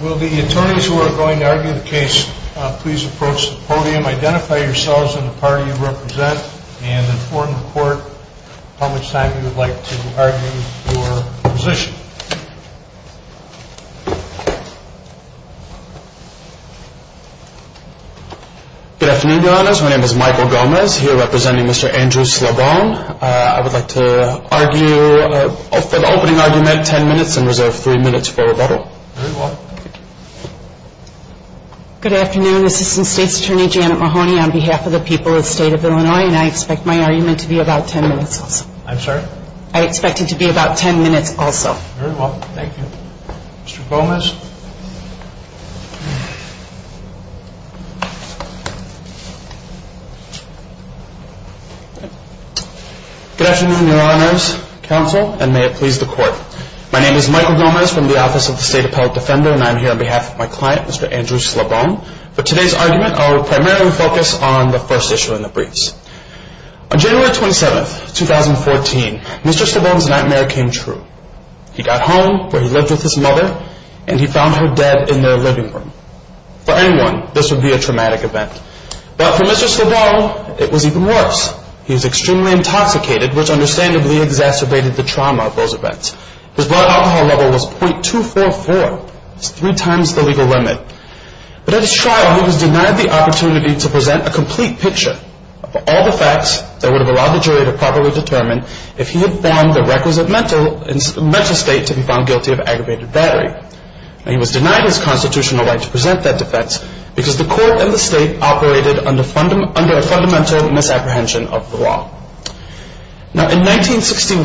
Will the attorneys who are going to argue the case please approach the podium. Identify yourselves and the party you represent. And in court, how much time you would like to argue your position. Good afternoon, Your Honors. My name is Michael Gomez, here representing Mr. Andrew Slabon. I would like to argue, for the opening argument, ten minutes and reserve three minutes for rebuttal. Very well. Good afternoon, Assistant State's Attorney Janet Mahoney on behalf of the people of the state of Illinois, and I expect my argument to be about ten minutes also. I'm sorry? I expect it to be about ten minutes also. Very Good afternoon, Your Honors, counsel, and may it please the court. My name is Michael Gomez from the Office of the State Appellate Defender, and I'm here on behalf of my client, Mr. Andrew Slabon. For today's argument, I will primarily focus on the first issue in the briefs. On January 27th, 2014, Mr. Slabon's nightmare came true. He got home, where he lived with his mother, and he found her dead in their living room. For anyone, this would be a traumatic event. But for Mr. Slabon, it was even worse. He was extremely intoxicated, which understandably exacerbated the trauma of those events. His blood alcohol level was .244, three times the legal limit. But at his trial, he was denied the opportunity to present a complete picture of all the facts that would have allowed the jury to properly determine if he had formed the requisite mental state to be found guilty of aggravated battery. He was denied his constitutional right to present that defense because the court and the state operated under a fundamental misapprehension of the law. Now, in 1961,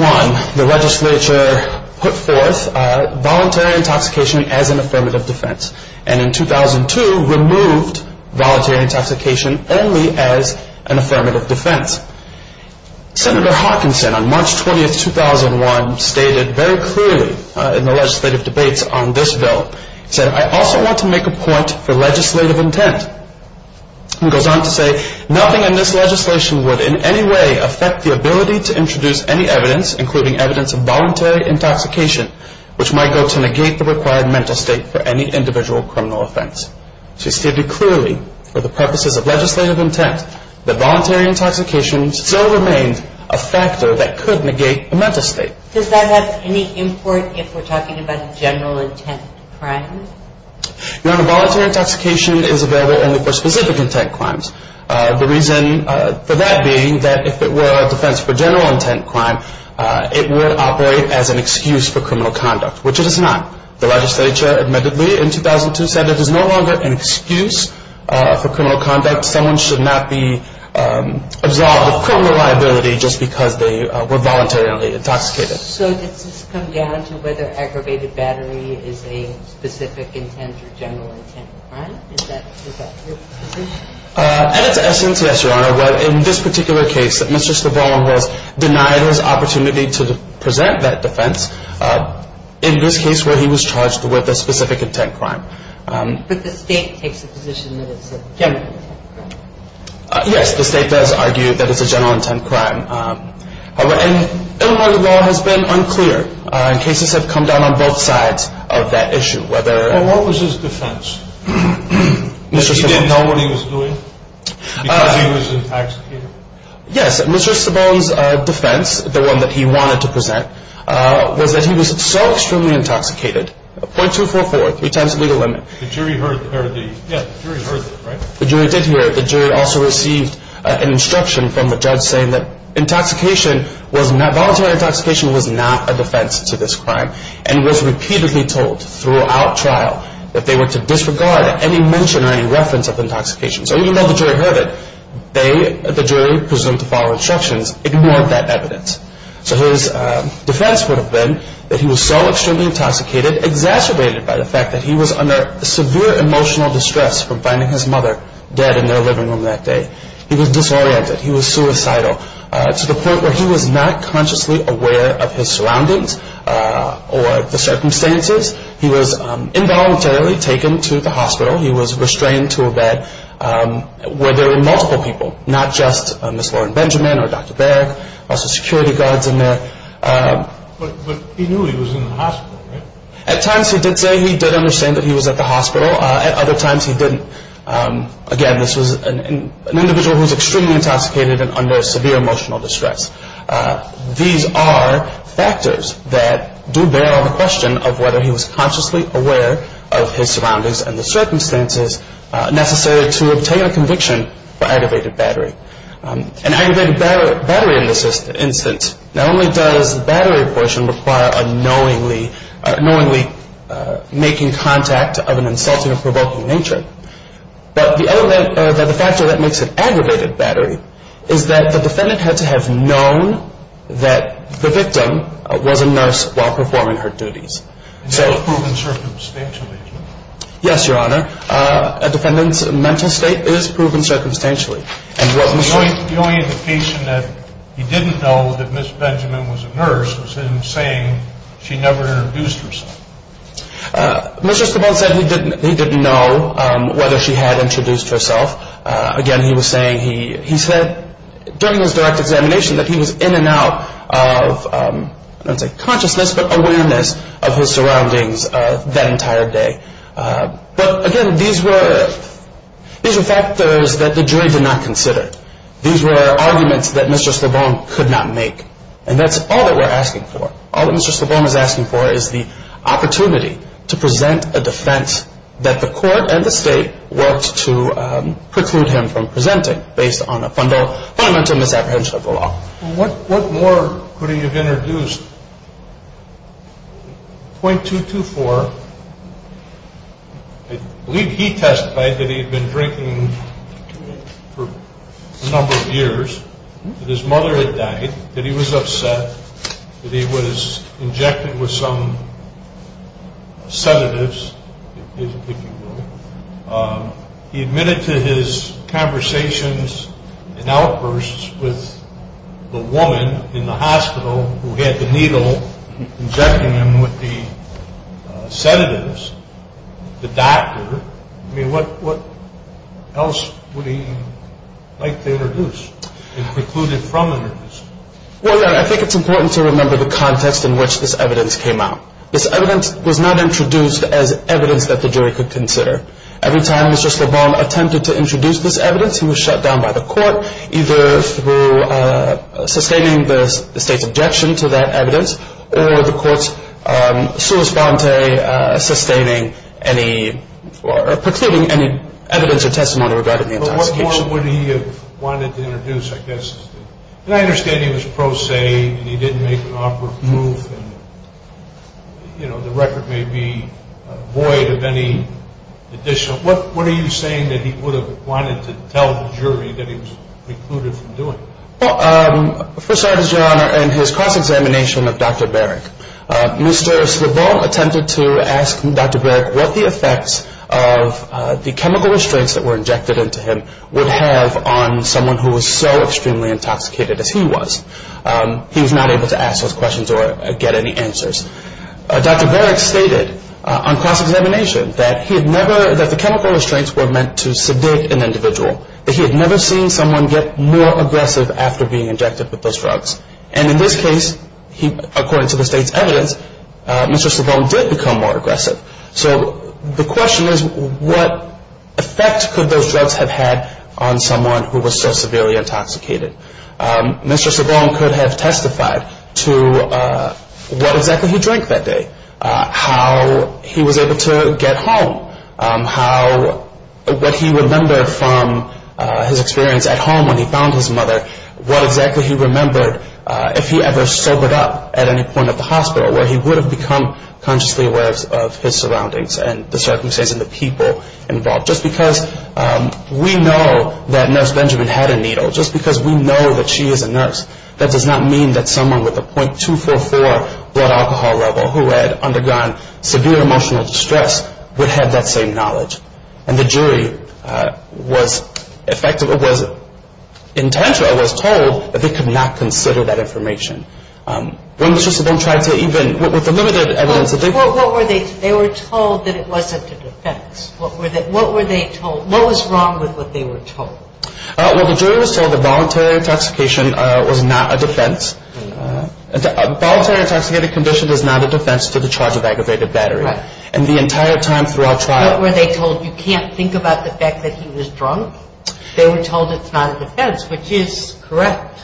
the legislature put forth voluntary intoxication as an affirmative defense, and in 2002, removed voluntary intoxication only as an affirmative defense. Senator Hawkinson, on March 20th, 2001, stated very clearly in the legislative debates on this bill, he said, I also want to make a point for legislative intent. He goes on to say, nothing in this legislation would in any way affect the ability to introduce any evidence, including evidence of voluntary intoxication, which might go to negate the required mental state for any individual criminal offense. So he stated clearly, for the purposes of legislative intent, that voluntary intoxication still remained a factor that could negate a mental state. Does that have any import if we're talking about general intent crimes? Your Honor, voluntary intoxication is available only for specific intent crimes. The reason for that being that if it were a defense for general intent crime, it would operate as an excuse for criminal conduct, which it is not. The legislature admittedly in 2002 said it is no longer an excuse for criminal conduct. Someone should not be absolved of criminal liability just because they were voluntarily intoxicated. So does this come down to whether aggravated battery is a specific intent or general intent crime? Is that your position? At its essence, yes, Your Honor. But in this particular case, Mr. Stavron has denied his opportunity to present that defense. In this case where he was charged with a specific intent crime. But the state takes the position that it's a general intent crime. Yes, the state has argued that it's a general intent crime. And Illinois law has been unclear. Cases have come down on both sides of that issue. Well, what was his defense? That he didn't know what he was doing because he was intoxicated? Yes, Mr. Stavron's defense, the one that he wanted to present, was that he was so extremely intoxicated, .244, three times the legal limit. The jury heard it, right? The jury did hear it. The jury also received an instruction from the judge saying that voluntary intoxication was not a defense to this crime and was repeatedly told throughout trial that they were to disregard any mention or any reference of intoxication. So even though the jury heard it, the jury presumed to follow instructions, ignored that evidence. So his defense would have been that he was so extremely intoxicated, exacerbated by the fact that he was under severe emotional distress from finding his mother dead in their living room that day. He was disoriented. He was suicidal to the point where he was not consciously aware of his surroundings or the circumstances. He was involuntarily taken to the hospital. He was restrained to a bed where there were multiple people, not just Ms. Lauren Benjamin or Dr. Berg, also security guards in there. But he knew he was in the hospital, right? At times he did say he did understand that he was at the hospital. At other times he didn't. Again, this was an individual who was extremely intoxicated and under severe emotional distress. These are factors that do bear on the question of whether he was consciously aware of his surroundings and the circumstances necessary to obtain a conviction for aggravated battery. An aggravated battery in this instance, not only does the battery portion require a knowingly making contact of an insulting or provoking nature, but the other factor that makes it aggravated battery is that the defendant had to have known that the victim was a nurse while performing her duties. Is that proven circumstantially? Yes, Your Honor. A defendant's mental state is proven circumstantially. The only indication that he didn't know that Ms. Benjamin was a nurse was him saying she never introduced herself. Mr. Stapone said he didn't know whether she had introduced herself. Again, he was saying he said during his direct examination that he was in and out of, I don't want to say consciousness, but awareness of his surroundings that entire day. But again, these were factors that the jury did not consider. These were arguments that Mr. Stapone could not make. And that's all that we're asking for. All that Mr. Stapone is asking for is the opportunity to present a defense that the court and the state worked to preclude him from presenting based on a fundamental misapprehension of the law. What more could he have introduced? Point 224, I believe he testified that he had been drinking for a number of years, that his mother had died, that he was upset, that he was injected with some sedatives, if you will. He admitted to his conversations and outbursts with the woman in the hospital who had the needle injecting him with the sedatives, the doctor. I mean, what else would he like to introduce and preclude him from introducing? Well, I think it's important to remember the context in which this evidence came out. This evidence was not introduced as evidence that the jury could consider. Every time Mr. Stapone attempted to introduce this evidence, he was shut down by the court, either through sustaining the state's objection to that evidence or the court's sua sponte, sustaining any or precluding any evidence or testimony regarding the intoxication. But what more would he have wanted to introduce, I guess? And I understand he was pro se, and he didn't make an offer of proof, and, you know, the record may be void of any additional. What are you saying that he would have wanted to tell the jury that he was precluded from doing it? Well, first of all, Your Honor, in his cross-examination of Dr. Barrick, Mr. Stapone attempted to ask Dr. Barrick what the effects of the chemical restraints that were injected into him would have on someone who was so extremely intoxicated as he was. He was not able to ask those questions or get any answers. Dr. Barrick stated on cross-examination that he had never – that the chemical restraints were meant to sedate an individual, that he had never seen someone get more aggressive after being injected with those drugs. And in this case, according to the state's evidence, Mr. Stapone did become more aggressive. So the question is, what effect could those drugs have had on someone who was so severely intoxicated? Mr. Stapone could have testified to what exactly he drank that day, how he was able to get home, what he remembered from his experience at home when he found his mother, what exactly he remembered if he ever sobered up at any point at the hospital, where he would have become consciously aware of his surroundings and the circumstances and the people involved. Just because we know that Nurse Benjamin had a needle, just because we know that she is a nurse, that does not mean that someone with a 0.244 blood alcohol level who had undergone severe emotional distress would have that same knowledge. And the jury was told that they could not consider that information. They were told that it wasn't a defense. What was wrong with what they were told? Well, the jury was told that voluntary intoxication was not a defense. A voluntary intoxicated condition is not a defense to the charge of aggravated battery. And the entire time throughout trial... What were they told? You can't think about the fact that he was drunk? They were told it's not a defense, which is correct.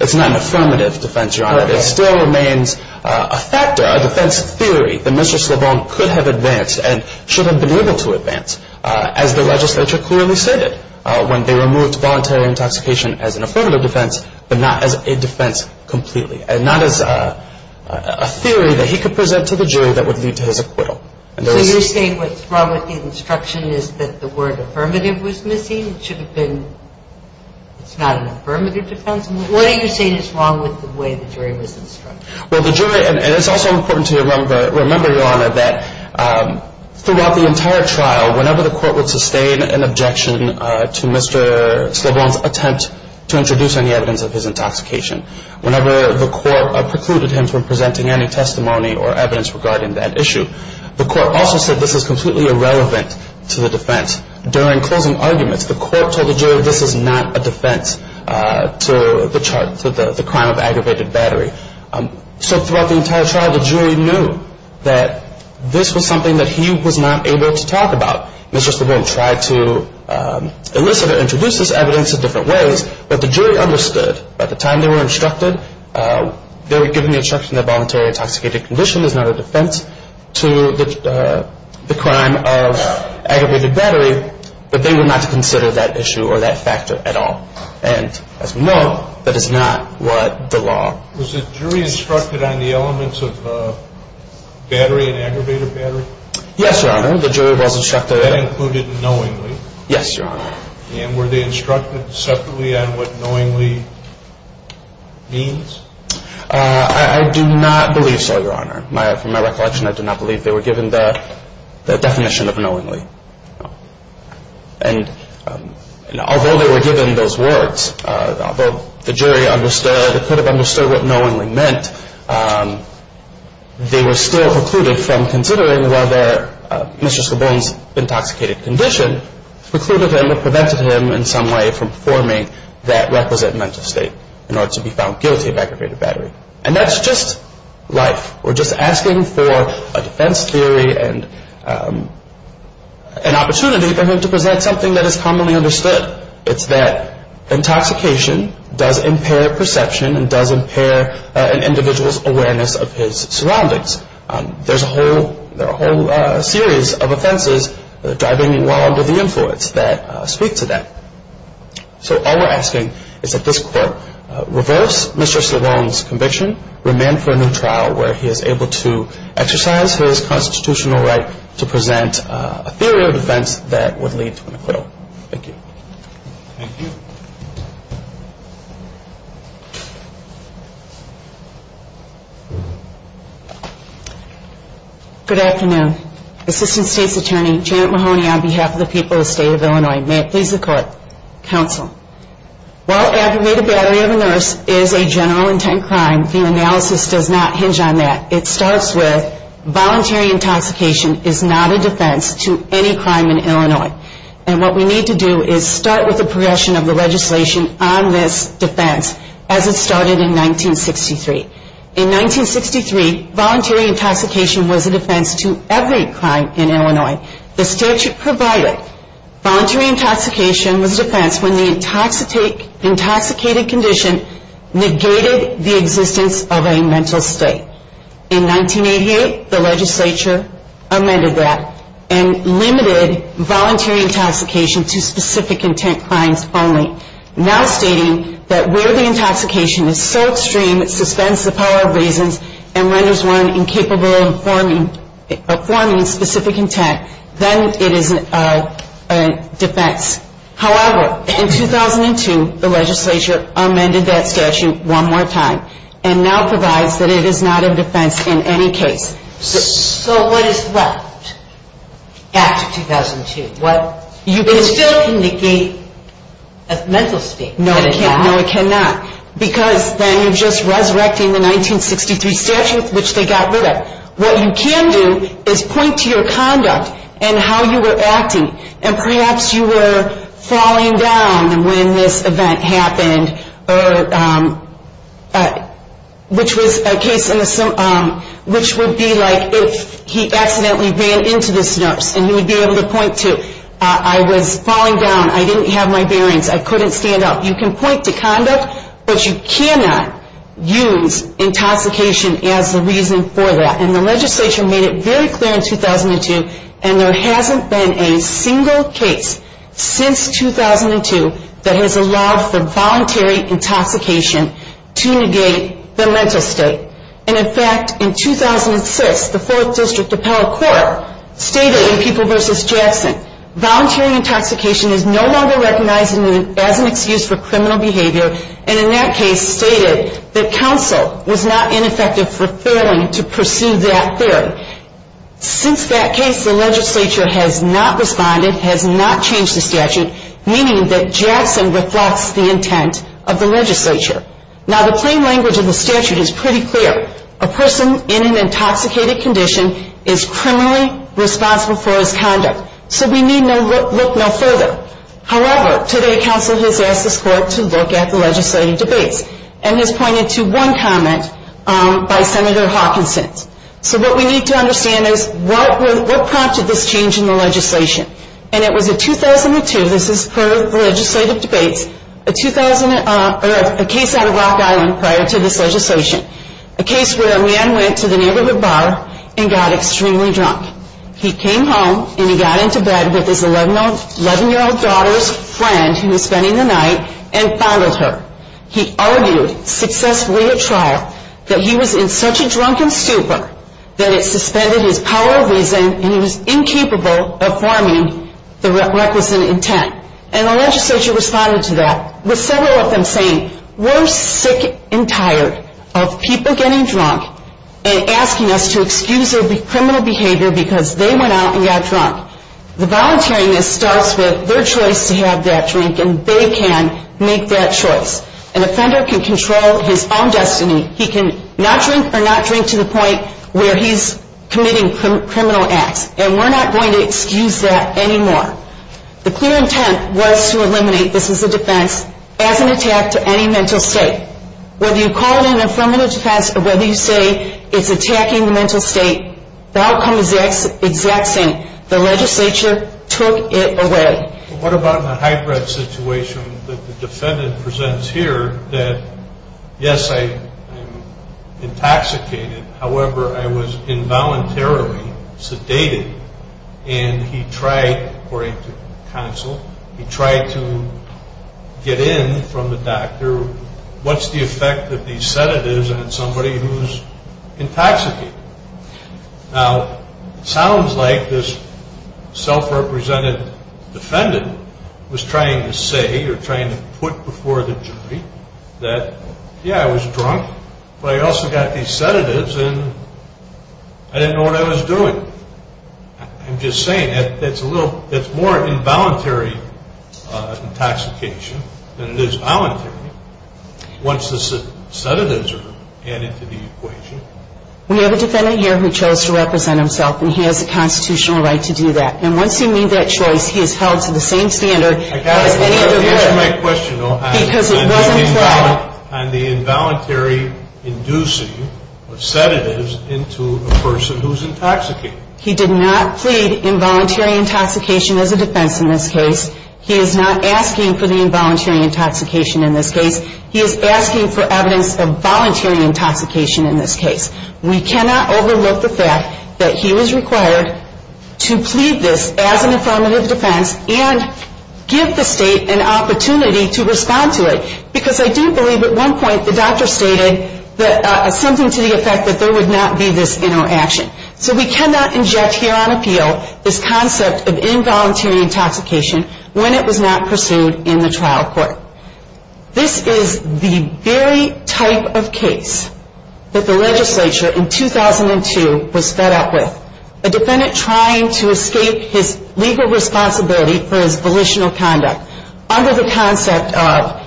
It's not an affirmative defense, Your Honor. It still remains a factor, a defense theory, that Mr. Slobon could have advanced and should have been able to advance, as the legislature clearly stated, when they removed voluntary intoxication as an affirmative defense, but not as a defense completely. And not as a theory that he could present to the jury that would lead to his acquittal. So you're saying what's wrong with the instruction is that the word affirmative was missing? It should have been, it's not an affirmative defense? What are you saying is wrong with the way the jury was instructed? Well, the jury, and it's also important to remember, Your Honor, that throughout the entire trial, whenever the court would sustain an objection to Mr. Slobon's attempt to introduce any evidence of his intoxication, whenever the court precluded him from presenting any testimony or evidence regarding that issue, the court also said this is completely irrelevant to the defense. During closing arguments, the court told the jury this is not a defense to the crime of aggravated battery. So throughout the entire trial, the jury knew that this was something that he was not able to talk about. Mr. Slobon tried to elicit or introduce this evidence in different ways, but the jury understood. By the time they were instructed, they were given the instruction that voluntary intoxicated condition is not a defense to the crime of aggravated battery, but they were not to consider that issue or that factor at all. And as we know, that is not what the law. Was the jury instructed on the elements of battery and aggravated battery? Yes, Your Honor, the jury was instructed. That included knowingly? Yes, Your Honor. And were they instructed separately on what knowingly means? I do not believe so, Your Honor. From my recollection, I do not believe they were given the definition of knowingly. And although they were given those words, although the jury understood or could have understood what knowingly meant, they were still precluded from considering whether Mr. Slobon's intoxicated condition precluded him or prevented him in some way from performing that requisite mental state in order to be found guilty of aggravated battery. And that's just life. We're just asking for a defense theory and an opportunity for him to present something that is commonly understood. It's that intoxication does impair perception and does impair an individual's awareness of his surroundings. There's a whole series of offenses driving along with the influence that speak to that. So all we're asking is that this Court reverse Mr. Slobon's conviction, remand for a new trial where he is able to exercise his constitutional right to present a theory of defense that would lead to an acquittal. Thank you. Thank you. Good afternoon. Assistant State's Attorney Janet Mahoney on behalf of the people of the State of Illinois. May it please the Court. Counsel. While aggravated battery of a nurse is a general intent crime, the analysis does not hinge on that. It starts with voluntary intoxication is not a defense to any crime in Illinois. And what we need to do is start with the progression of the legislation on this defense as it started in 1963. In 1963, voluntary intoxication was a defense to every crime in Illinois. The statute provided voluntary intoxication was a defense when the intoxicated condition negated the existence of a mental state. In 1988, the legislature amended that and limited voluntary intoxication to specific intent crimes only. Now stating that where the intoxication is so extreme it suspends the power of reasons and renders one incapable of forming specific intent, then it is a defense. However, in 2002, the legislature amended that statute one more time and now provides that it is not a defense in any case. So what is left after 2002? It still can negate a mental state. No, it cannot. Because then you're just resurrecting the 1963 statute which they got rid of. What you can do is point to your conduct and how you were acting. And perhaps you were falling down when this event happened, which would be like if he accidentally ran into this nurse and he would be able to point to, I was falling down, I didn't have my bearings, I couldn't stand up. You can point to conduct, but you cannot use intoxication as the reason for that. And the legislature made it very clear in 2002, and there hasn't been a single case since 2002 that has allowed for voluntary intoxication to negate the mental state. And in fact, in 2006, the 4th District Appellate Court stated in People v. Jackson, voluntary intoxication is no longer recognized as an excuse for criminal behavior, and in that case stated that counsel was not ineffective for failing to pursue that theory. Since that case, the legislature has not responded, has not changed the statute, meaning that Jackson reflects the intent of the legislature. Now, the plain language of the statute is pretty clear. A person in an intoxicated condition is criminally responsible for his conduct. So we need look no further. However, today counsel has asked this court to look at the legislative debates and has pointed to one comment by Senator Hawkinson. So what we need to understand is what prompted this change in the legislation. And it was in 2002, this is per the legislative debates, a case out of Rock Island prior to this legislation, a case where a man went to the neighborhood bar and got extremely drunk. He came home and he got into bed with his 11-year-old daughter's friend who was spending the night and fondled her. He argued successfully at trial that he was in such a drunken stupor that it suspended his power of reason and he was incapable of forming the requisite intent. And the legislature responded to that with several of them saying, we're sick and tired of people getting drunk and asking us to excuse their criminal behavior because they went out and got drunk. The volunteering that starts with their choice to have that drink and they can make that choice. An offender can control his own destiny. He can not drink or not drink to the point where he's committing criminal acts. And we're not going to excuse that anymore. The clear intent was to eliminate, this was a defense, as an attack to any mental state. Whether you call it an affirmative defense or whether you say it's attacking the mental state, the outcome is the exact same. The legislature took it away. What about the high-breadth situation that the defendant presents here that, yes, I intoxicated, however, I was involuntarily sedated and he tried, according to counsel, he tried to get in from the doctor. What's the effect of these sedatives on somebody who's intoxicated? Now, it sounds like this self-represented defendant was trying to say or trying to put before the jury that, yeah, I was drunk, but I also got these sedatives and I didn't know what I was doing. I'm just saying that's a little, that's more involuntary intoxication than it is voluntary once the sedatives are added to the equation. We have a defendant here who chose to represent himself and he has a constitutional right to do that. And once he made that choice, he is held to the same standard as any other person. Answer my question, though. On the involuntary inducing of sedatives into a person who's intoxicated. He did not plead involuntary intoxication as a defense in this case. He is not asking for the involuntary intoxication in this case. He is asking for evidence of voluntary intoxication in this case. We cannot overlook the fact that he was required to plead this as an affirmative defense and give the state an opportunity to respond to it. Because I do believe at one point the doctor stated something to the effect that there would not be this interaction. So we cannot inject here on appeal this concept of involuntary intoxication when it was not pursued in the trial court. This is the very type of case that the legislature in 2002 was fed up with. A defendant trying to escape his legal responsibility for his volitional conduct under the concept of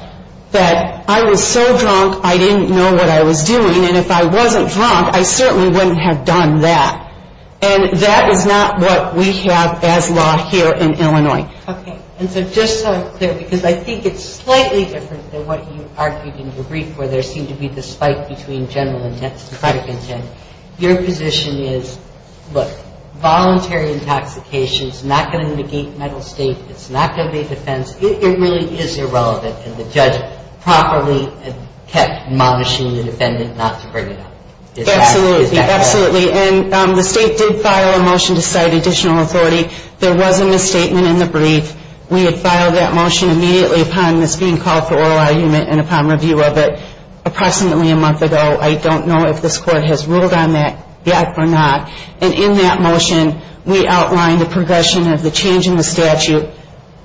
that I was so drunk I didn't know what I was doing and if I wasn't drunk, I certainly wouldn't have done that. And that is not what we have as law here in Illinois. Okay. And so just so I'm clear, because I think it's slightly different than what you argued in your brief where there seemed to be the spike between general intent and product intent. Your position is, look, voluntary intoxication is not going to negate mental state. It's not going to be a defense. It really is irrelevant. And the judge properly kept monishing the defendant not to bring it up. Absolutely. Absolutely. And the state did file a motion to cite additional authority. There was a misstatement in the brief. We had filed that motion immediately upon this being called for oral argument and upon review of it approximately a month ago. I don't know if this court has ruled on that yet or not. And in that motion, we outlined the progression of the change in the statute,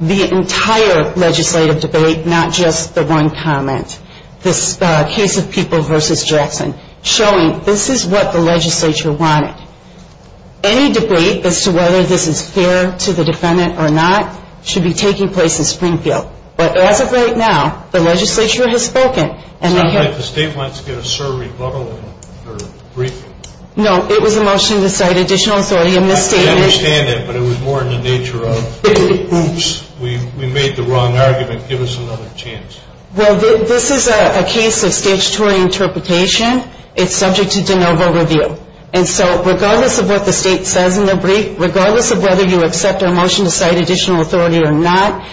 the entire legislative debate, not just the one comment, this case of People v. Jackson, showing this is what the legislature wanted. Any debate as to whether this is fair to the defendant or not should be taking place in Springfield. But as of right now, the legislature has spoken. It sounds like the state wants to get a serve rebuttal in her brief. No, it was a motion to cite additional authority. I understand that, but it was more in the nature of, oops, we made the wrong argument. Give us another chance. Well, this is a case of statutory interpretation. It's subject to de novo review. And so regardless of what the state says in the brief, regardless of whether you accept our motion to cite additional authority or not,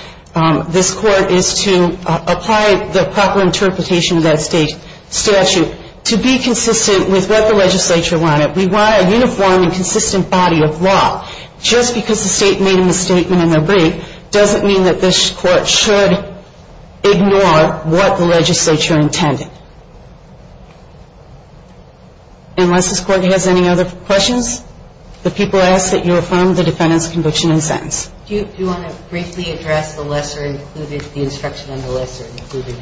this court is to apply the proper interpretation of that state statute to be consistent with what the legislature wanted. We want a uniform and consistent body of law. Just because the state made a misstatement in their brief doesn't mean that this court should ignore what the legislature intended. Unless this court has any other questions, the people ask that you affirm the defendant's conviction and sentence. Do you want to briefly address the lesser included, the instruction on the lesser included?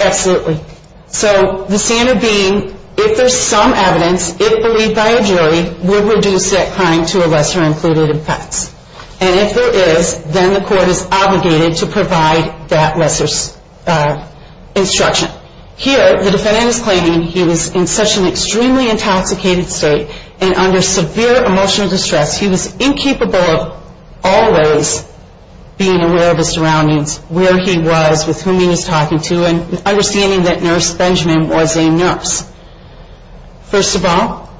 Absolutely. So the standard being if there's some evidence, if believed by a jury, we'll reduce that crime to a lesser included offense. And if there is, then the court is obligated to provide that lesser instruction. Here the defendant is claiming he was in such an extremely intoxicated state and under severe emotional distress, he was incapable of always being aware of his surroundings, where he was, with whom he was talking to, and understanding that nurse Benjamin was a nurse. First of all,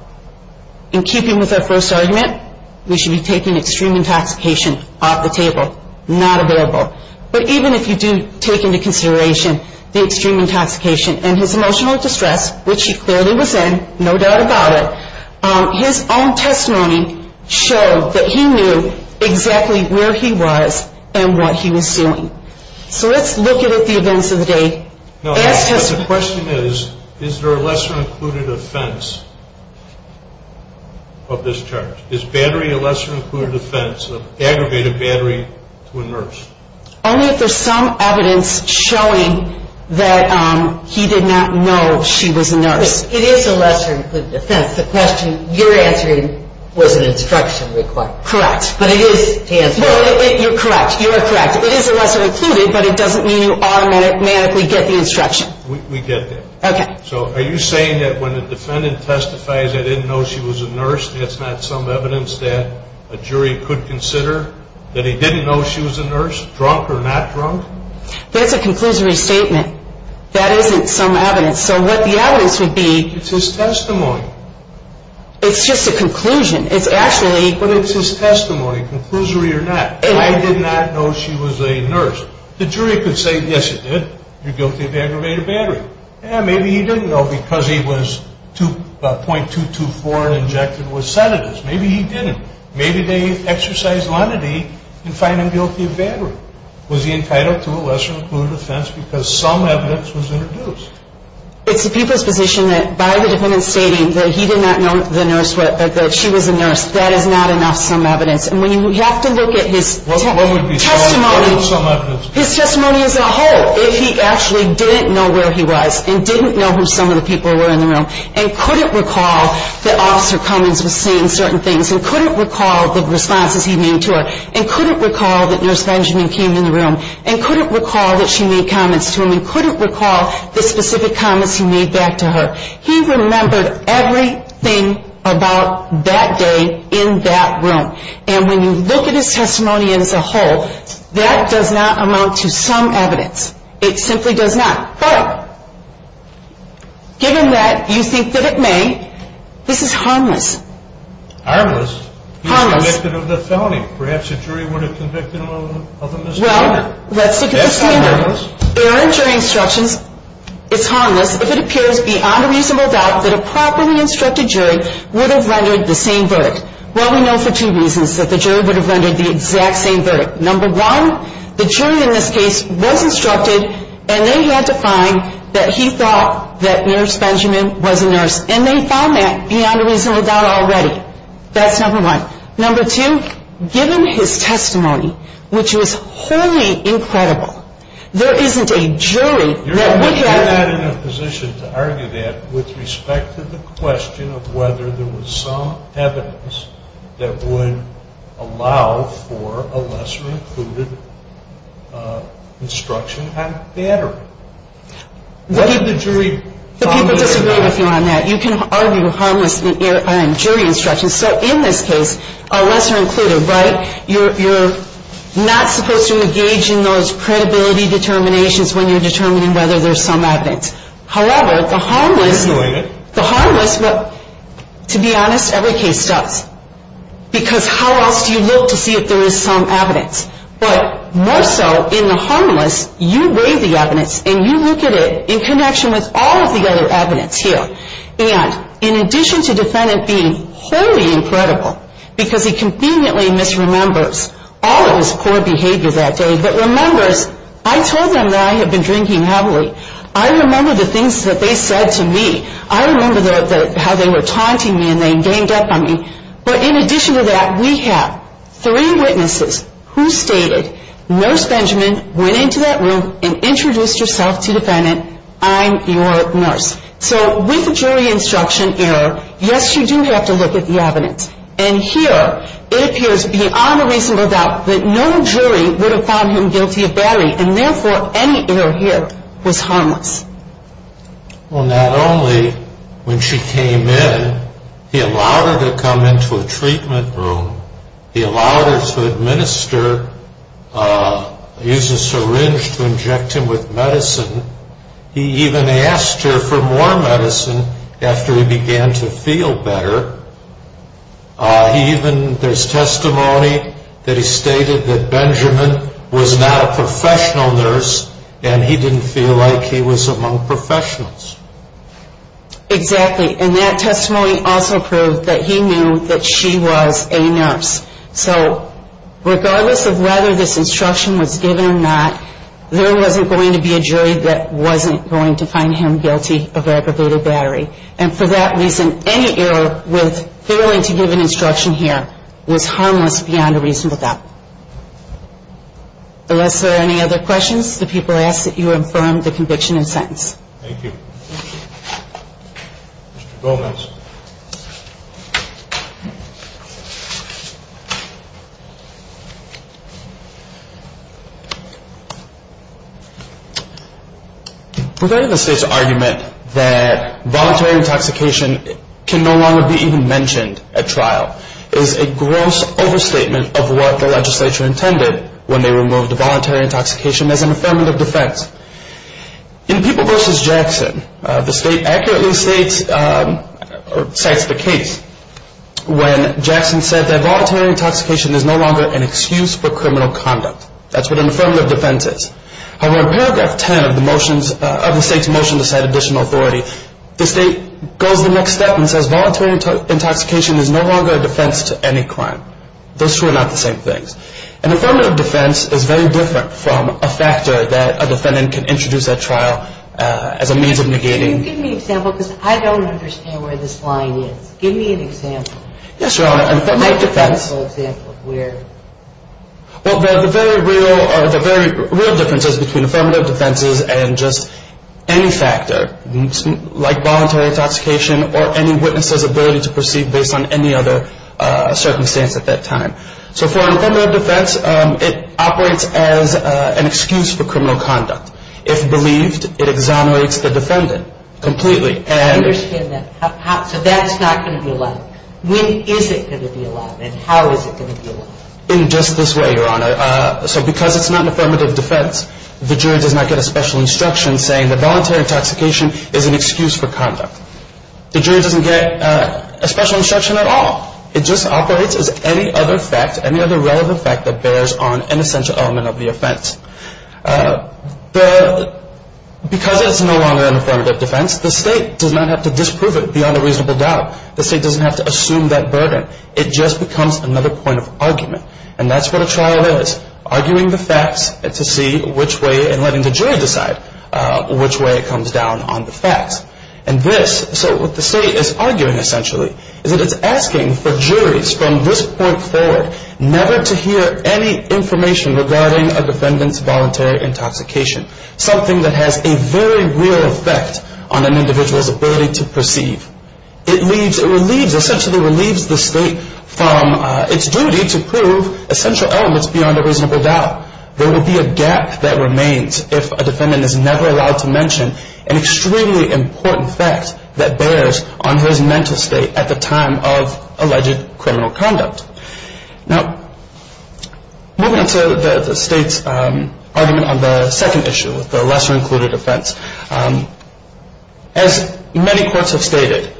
in keeping with our first argument, we should be taking extreme intoxication off the table. Not available. But even if you do take into consideration the extreme intoxication and his emotional distress, which he clearly was in, no doubt about it, his own testimony showed that he knew exactly where he was and what he was doing. So let's look at the events of the day. The question is, is there a lesser included offense of this charge? Is battery a lesser included offense, an aggravated battery to a nurse? Only if there's some evidence showing that he did not know she was a nurse. It is a lesser included offense. The question you're answering was an instruction required. Correct. But it is to answer. No, you're correct. You are correct. It is a lesser included, but it doesn't mean you automatically get the instruction. We get that. Okay. So are you saying that when a defendant testifies, I didn't know she was a nurse, that's not some evidence that a jury could consider that he didn't know she was a nurse, drunk or not drunk? That's a conclusory statement. That isn't some evidence. So what the evidence would be. It's his testimony. It's just a conclusion. It's actually. But it's his testimony, conclusory or not. I did not know she was a nurse. The jury could say, yes, it did. You're guilty of aggravated battery. Maybe he didn't know because he was .224 and injected with sedatives. Maybe he didn't. Maybe they exercised lenity in finding guilty of battery. Was he entitled to a lesser included offense because some evidence was introduced? It's the people's position that by the defendant stating that he did not know the nurse, that she was a nurse, that is not enough some evidence. And when you have to look at his testimony. What would be some evidence? His testimony as a whole. If he actually didn't know where he was and didn't know who some of the people were in the room and couldn't recall that Officer Cummings was saying certain things and couldn't recall the responses he made to her and couldn't recall that Nurse Benjamin came in the room and couldn't recall that she made comments to him and couldn't recall the specific comments he made back to her. He remembered everything about that day in that room. And when you look at his testimony as a whole, that does not amount to some evidence. It simply does not. But given that you think that it may, this is harmless. Harmless? Harmless. He was convicted of the felony. Perhaps a jury would have convicted him of a misdemeanor. Well, let's look at the standard. Error in jury instructions is harmless if it appears beyond a reasonable doubt that a properly instructed jury would have rendered the same verdict. Well, we know for two reasons that the jury would have rendered the exact same verdict. Number one, the jury in this case was instructed and they had to find that he thought that Nurse Benjamin was a nurse. And they found that beyond a reasonable doubt already. That's number one. Number two, given his testimony, which was wholly incredible, there isn't a jury that would have You're not in a position to argue that with respect to the question of whether there was some evidence that would allow for a lesser included instruction on battery. What did the jury find there? People disagree with you on that. You can argue harmless error in jury instructions. So in this case, a lesser included, right? You're not supposed to engage in those credibility determinations when you're determining whether there's some evidence. However, the harmless To be honest, every case does. Because how else do you look to see if there is some evidence? But more so in the harmless, you weigh the evidence and you look at it in connection with all of the other evidence here. And in addition to defendant being wholly incredible, because he conveniently misremembers all of his poor behavior that day, but remembers, I told them that I had been drinking heavily. I remember the things that they said to me. I remember how they were taunting me and they ganged up on me. But in addition to that, we have three witnesses who stated, Nurse Benjamin went into that room and introduced herself to defendant, I'm your nurse. So with jury instruction error, yes, you do have to look at the evidence. And here, it appears beyond a reasonable doubt that no jury would have found him guilty of battery. And therefore, any error here was harmless. Well, not only when she came in, he allowed her to come into a treatment room. He allowed her to administer, use a syringe to inject him with medicine. He even asked her for more medicine after he began to feel better. He even, there's testimony that he stated that Benjamin was not a professional nurse and he didn't feel like he was among professionals. Exactly. And that testimony also proved that he knew that she was a nurse. So regardless of whether this instruction was given or not, there wasn't going to be a jury that wasn't going to find him guilty of aggravated battery. And for that reason, any error with failing to give an instruction here was harmless beyond a reasonable doubt. Unless there are any other questions, the people ask that you confirm the conviction and sentence. Mr. Gomez. Regarding the state's argument that voluntary intoxication can no longer be even mentioned at trial, is a gross overstatement of what the legislature intended when they removed the voluntary intoxication as an affirmative defense. In People v. Jackson, the state accurately states, or cites the case, when Jackson said that voluntary intoxication is no longer an excuse for criminal conduct. That's what an affirmative defense is. However, in paragraph 10 of the state's motion to cite additional authority, the state goes the next step and says voluntary intoxication is no longer a defense to any crime. Those two are not the same things. An affirmative defense is very different from a factor that a defendant can introduce at trial as a means of negating. Can you give me an example? Because I don't understand where this line is. Give me an example. Yes, Your Honor. An affirmative defense. Give me an example of where. Well, the very real differences between affirmative defenses and just any factor, like voluntary intoxication or any witness's ability to proceed based on any other circumstance at that time. So for an affirmative defense, it operates as an excuse for criminal conduct. If believed, it exonerates the defendant completely. I understand that. So that's not going to be allowed. When is it going to be allowed, and how is it going to be allowed? In just this way, Your Honor. So because it's not an affirmative defense, the jury does not get a special instruction saying that voluntary intoxication is an excuse for conduct. The jury doesn't get a special instruction at all. It just operates as any other fact, any other relevant fact that bears on an essential element of the offense. Because it's no longer an affirmative defense, the state does not have to disprove it beyond a reasonable doubt. The state doesn't have to assume that burden. It just becomes another point of argument. And that's what a trial is, arguing the facts to see which way and letting the jury decide which way it comes down on the facts. And this, so what the state is arguing essentially, is that it's asking for juries from this point forward never to hear any information regarding a defendant's voluntary intoxication, something that has a very real effect on an individual's ability to perceive. It relieves, essentially relieves the state from its duty to prove essential elements beyond a reasonable doubt. There will be a gap that remains if a defendant is never allowed to mention an extremely important fact that bears on his mental state at the time of alleged criminal conduct. Now, moving to the state's argument on the second issue, the lesser included offense. As many courts have stated,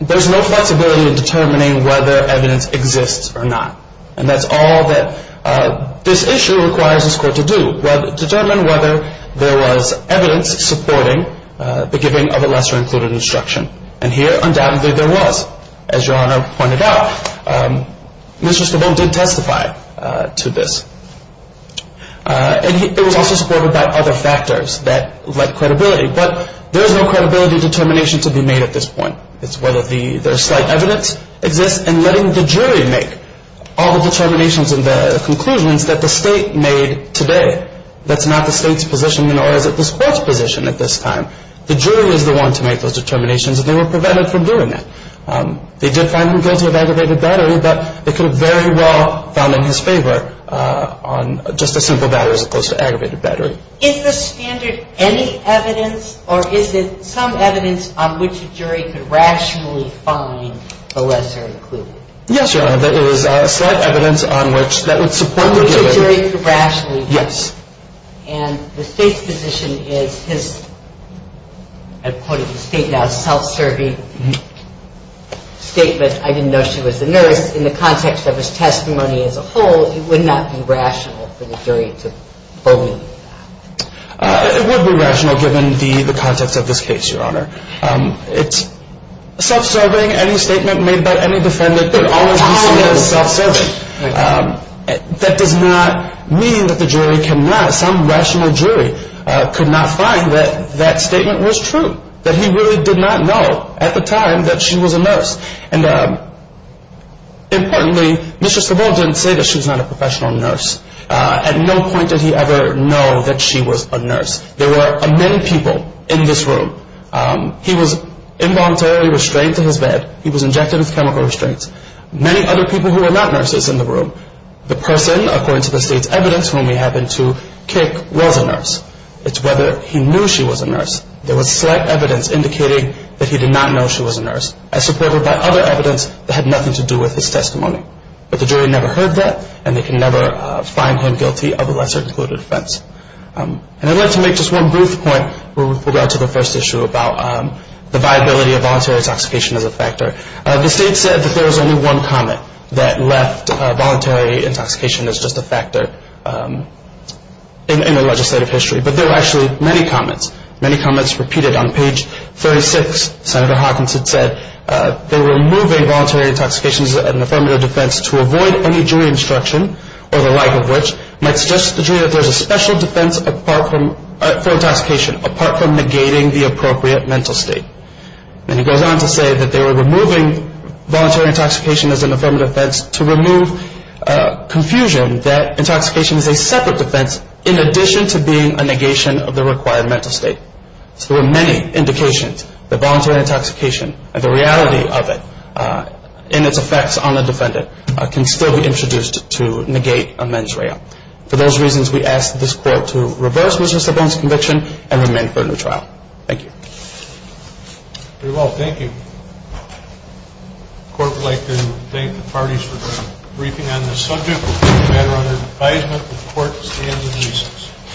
there's no flexibility in determining whether evidence exists or not. And that's all that this issue requires this court to do, determine whether there was evidence supporting the giving of a lesser included instruction. And here, undoubtedly, there was. As Your Honor pointed out, Mr. Stavone did testify to this. And it was also supported by other factors that led credibility. But there is no credibility determination to be made at this point. It's whether there's slight evidence exists and letting the jury make all the determinations and the conclusions that the state made today. That's not the state's position, nor is it the court's position at this time. The jury was the one to make those determinations, and they were prevented from doing it. They did find them guilty of aggravated battery, but they could have very well found in his favor on just a simple battery as opposed to aggravated battery. Is the standard any evidence, or is it some evidence on which a jury could rationally find a lesser included? Yes, Your Honor. There is slight evidence on which that would support the giving. Which a jury could rationally find. Yes. And the state's position is his, I quoted the state now, self-serving statement, I didn't know she was a nurse, in the context of his testimony as a whole, it would not be rational for the jury to believe that. It would be rational given the context of this case, Your Honor. It's self-serving, any statement made by any defendant could always be seen as self-serving. That does not mean that the jury cannot, some rational jury could not find that that statement was true, that he really did not know at the time that she was a nurse. And importantly, Mr. Savold didn't say that she was not a professional nurse. At no point did he ever know that she was a nurse. There were many people in this room. He was involuntarily restrained to his bed. He was injected with chemical restraints. Many other people who were not nurses in the room. The person, according to the state's evidence, whom we happen to kick, was a nurse. It's whether he knew she was a nurse. There was slight evidence indicating that he did not know she was a nurse, as supported by other evidence that had nothing to do with his testimony. But the jury never heard that, and they can never find him guilty of a lesser included offense. And I'd like to make just one brief point with regard to the first issue about the viability of voluntary intoxication as a factor. The state said that there was only one comment that left voluntary intoxication as just a factor in the legislative history. But there were actually many comments. Many comments repeated on page 36. Senator Hawkins had said they were moving voluntary intoxication as an affirmative defense to avoid any jury instruction, or the like of which might suggest to the jury that there's a special defense for intoxication, apart from negating the appropriate mental state. And he goes on to say that they were removing voluntary intoxication as an affirmative defense to remove confusion that intoxication is a separate defense in addition to being a negation of the required mental state. So there were many indications that voluntary intoxication, and the reality of it and its effects on the defendant, can still be introduced to negate a mens rea. For those reasons, we ask that this court to reverse Mr. Sloan's conviction and remand him for a new trial. Thank you. Very well. Thank you. The court would like to thank the parties for briefing on this subject. We'll take a matter under advisement. The court stands in recess.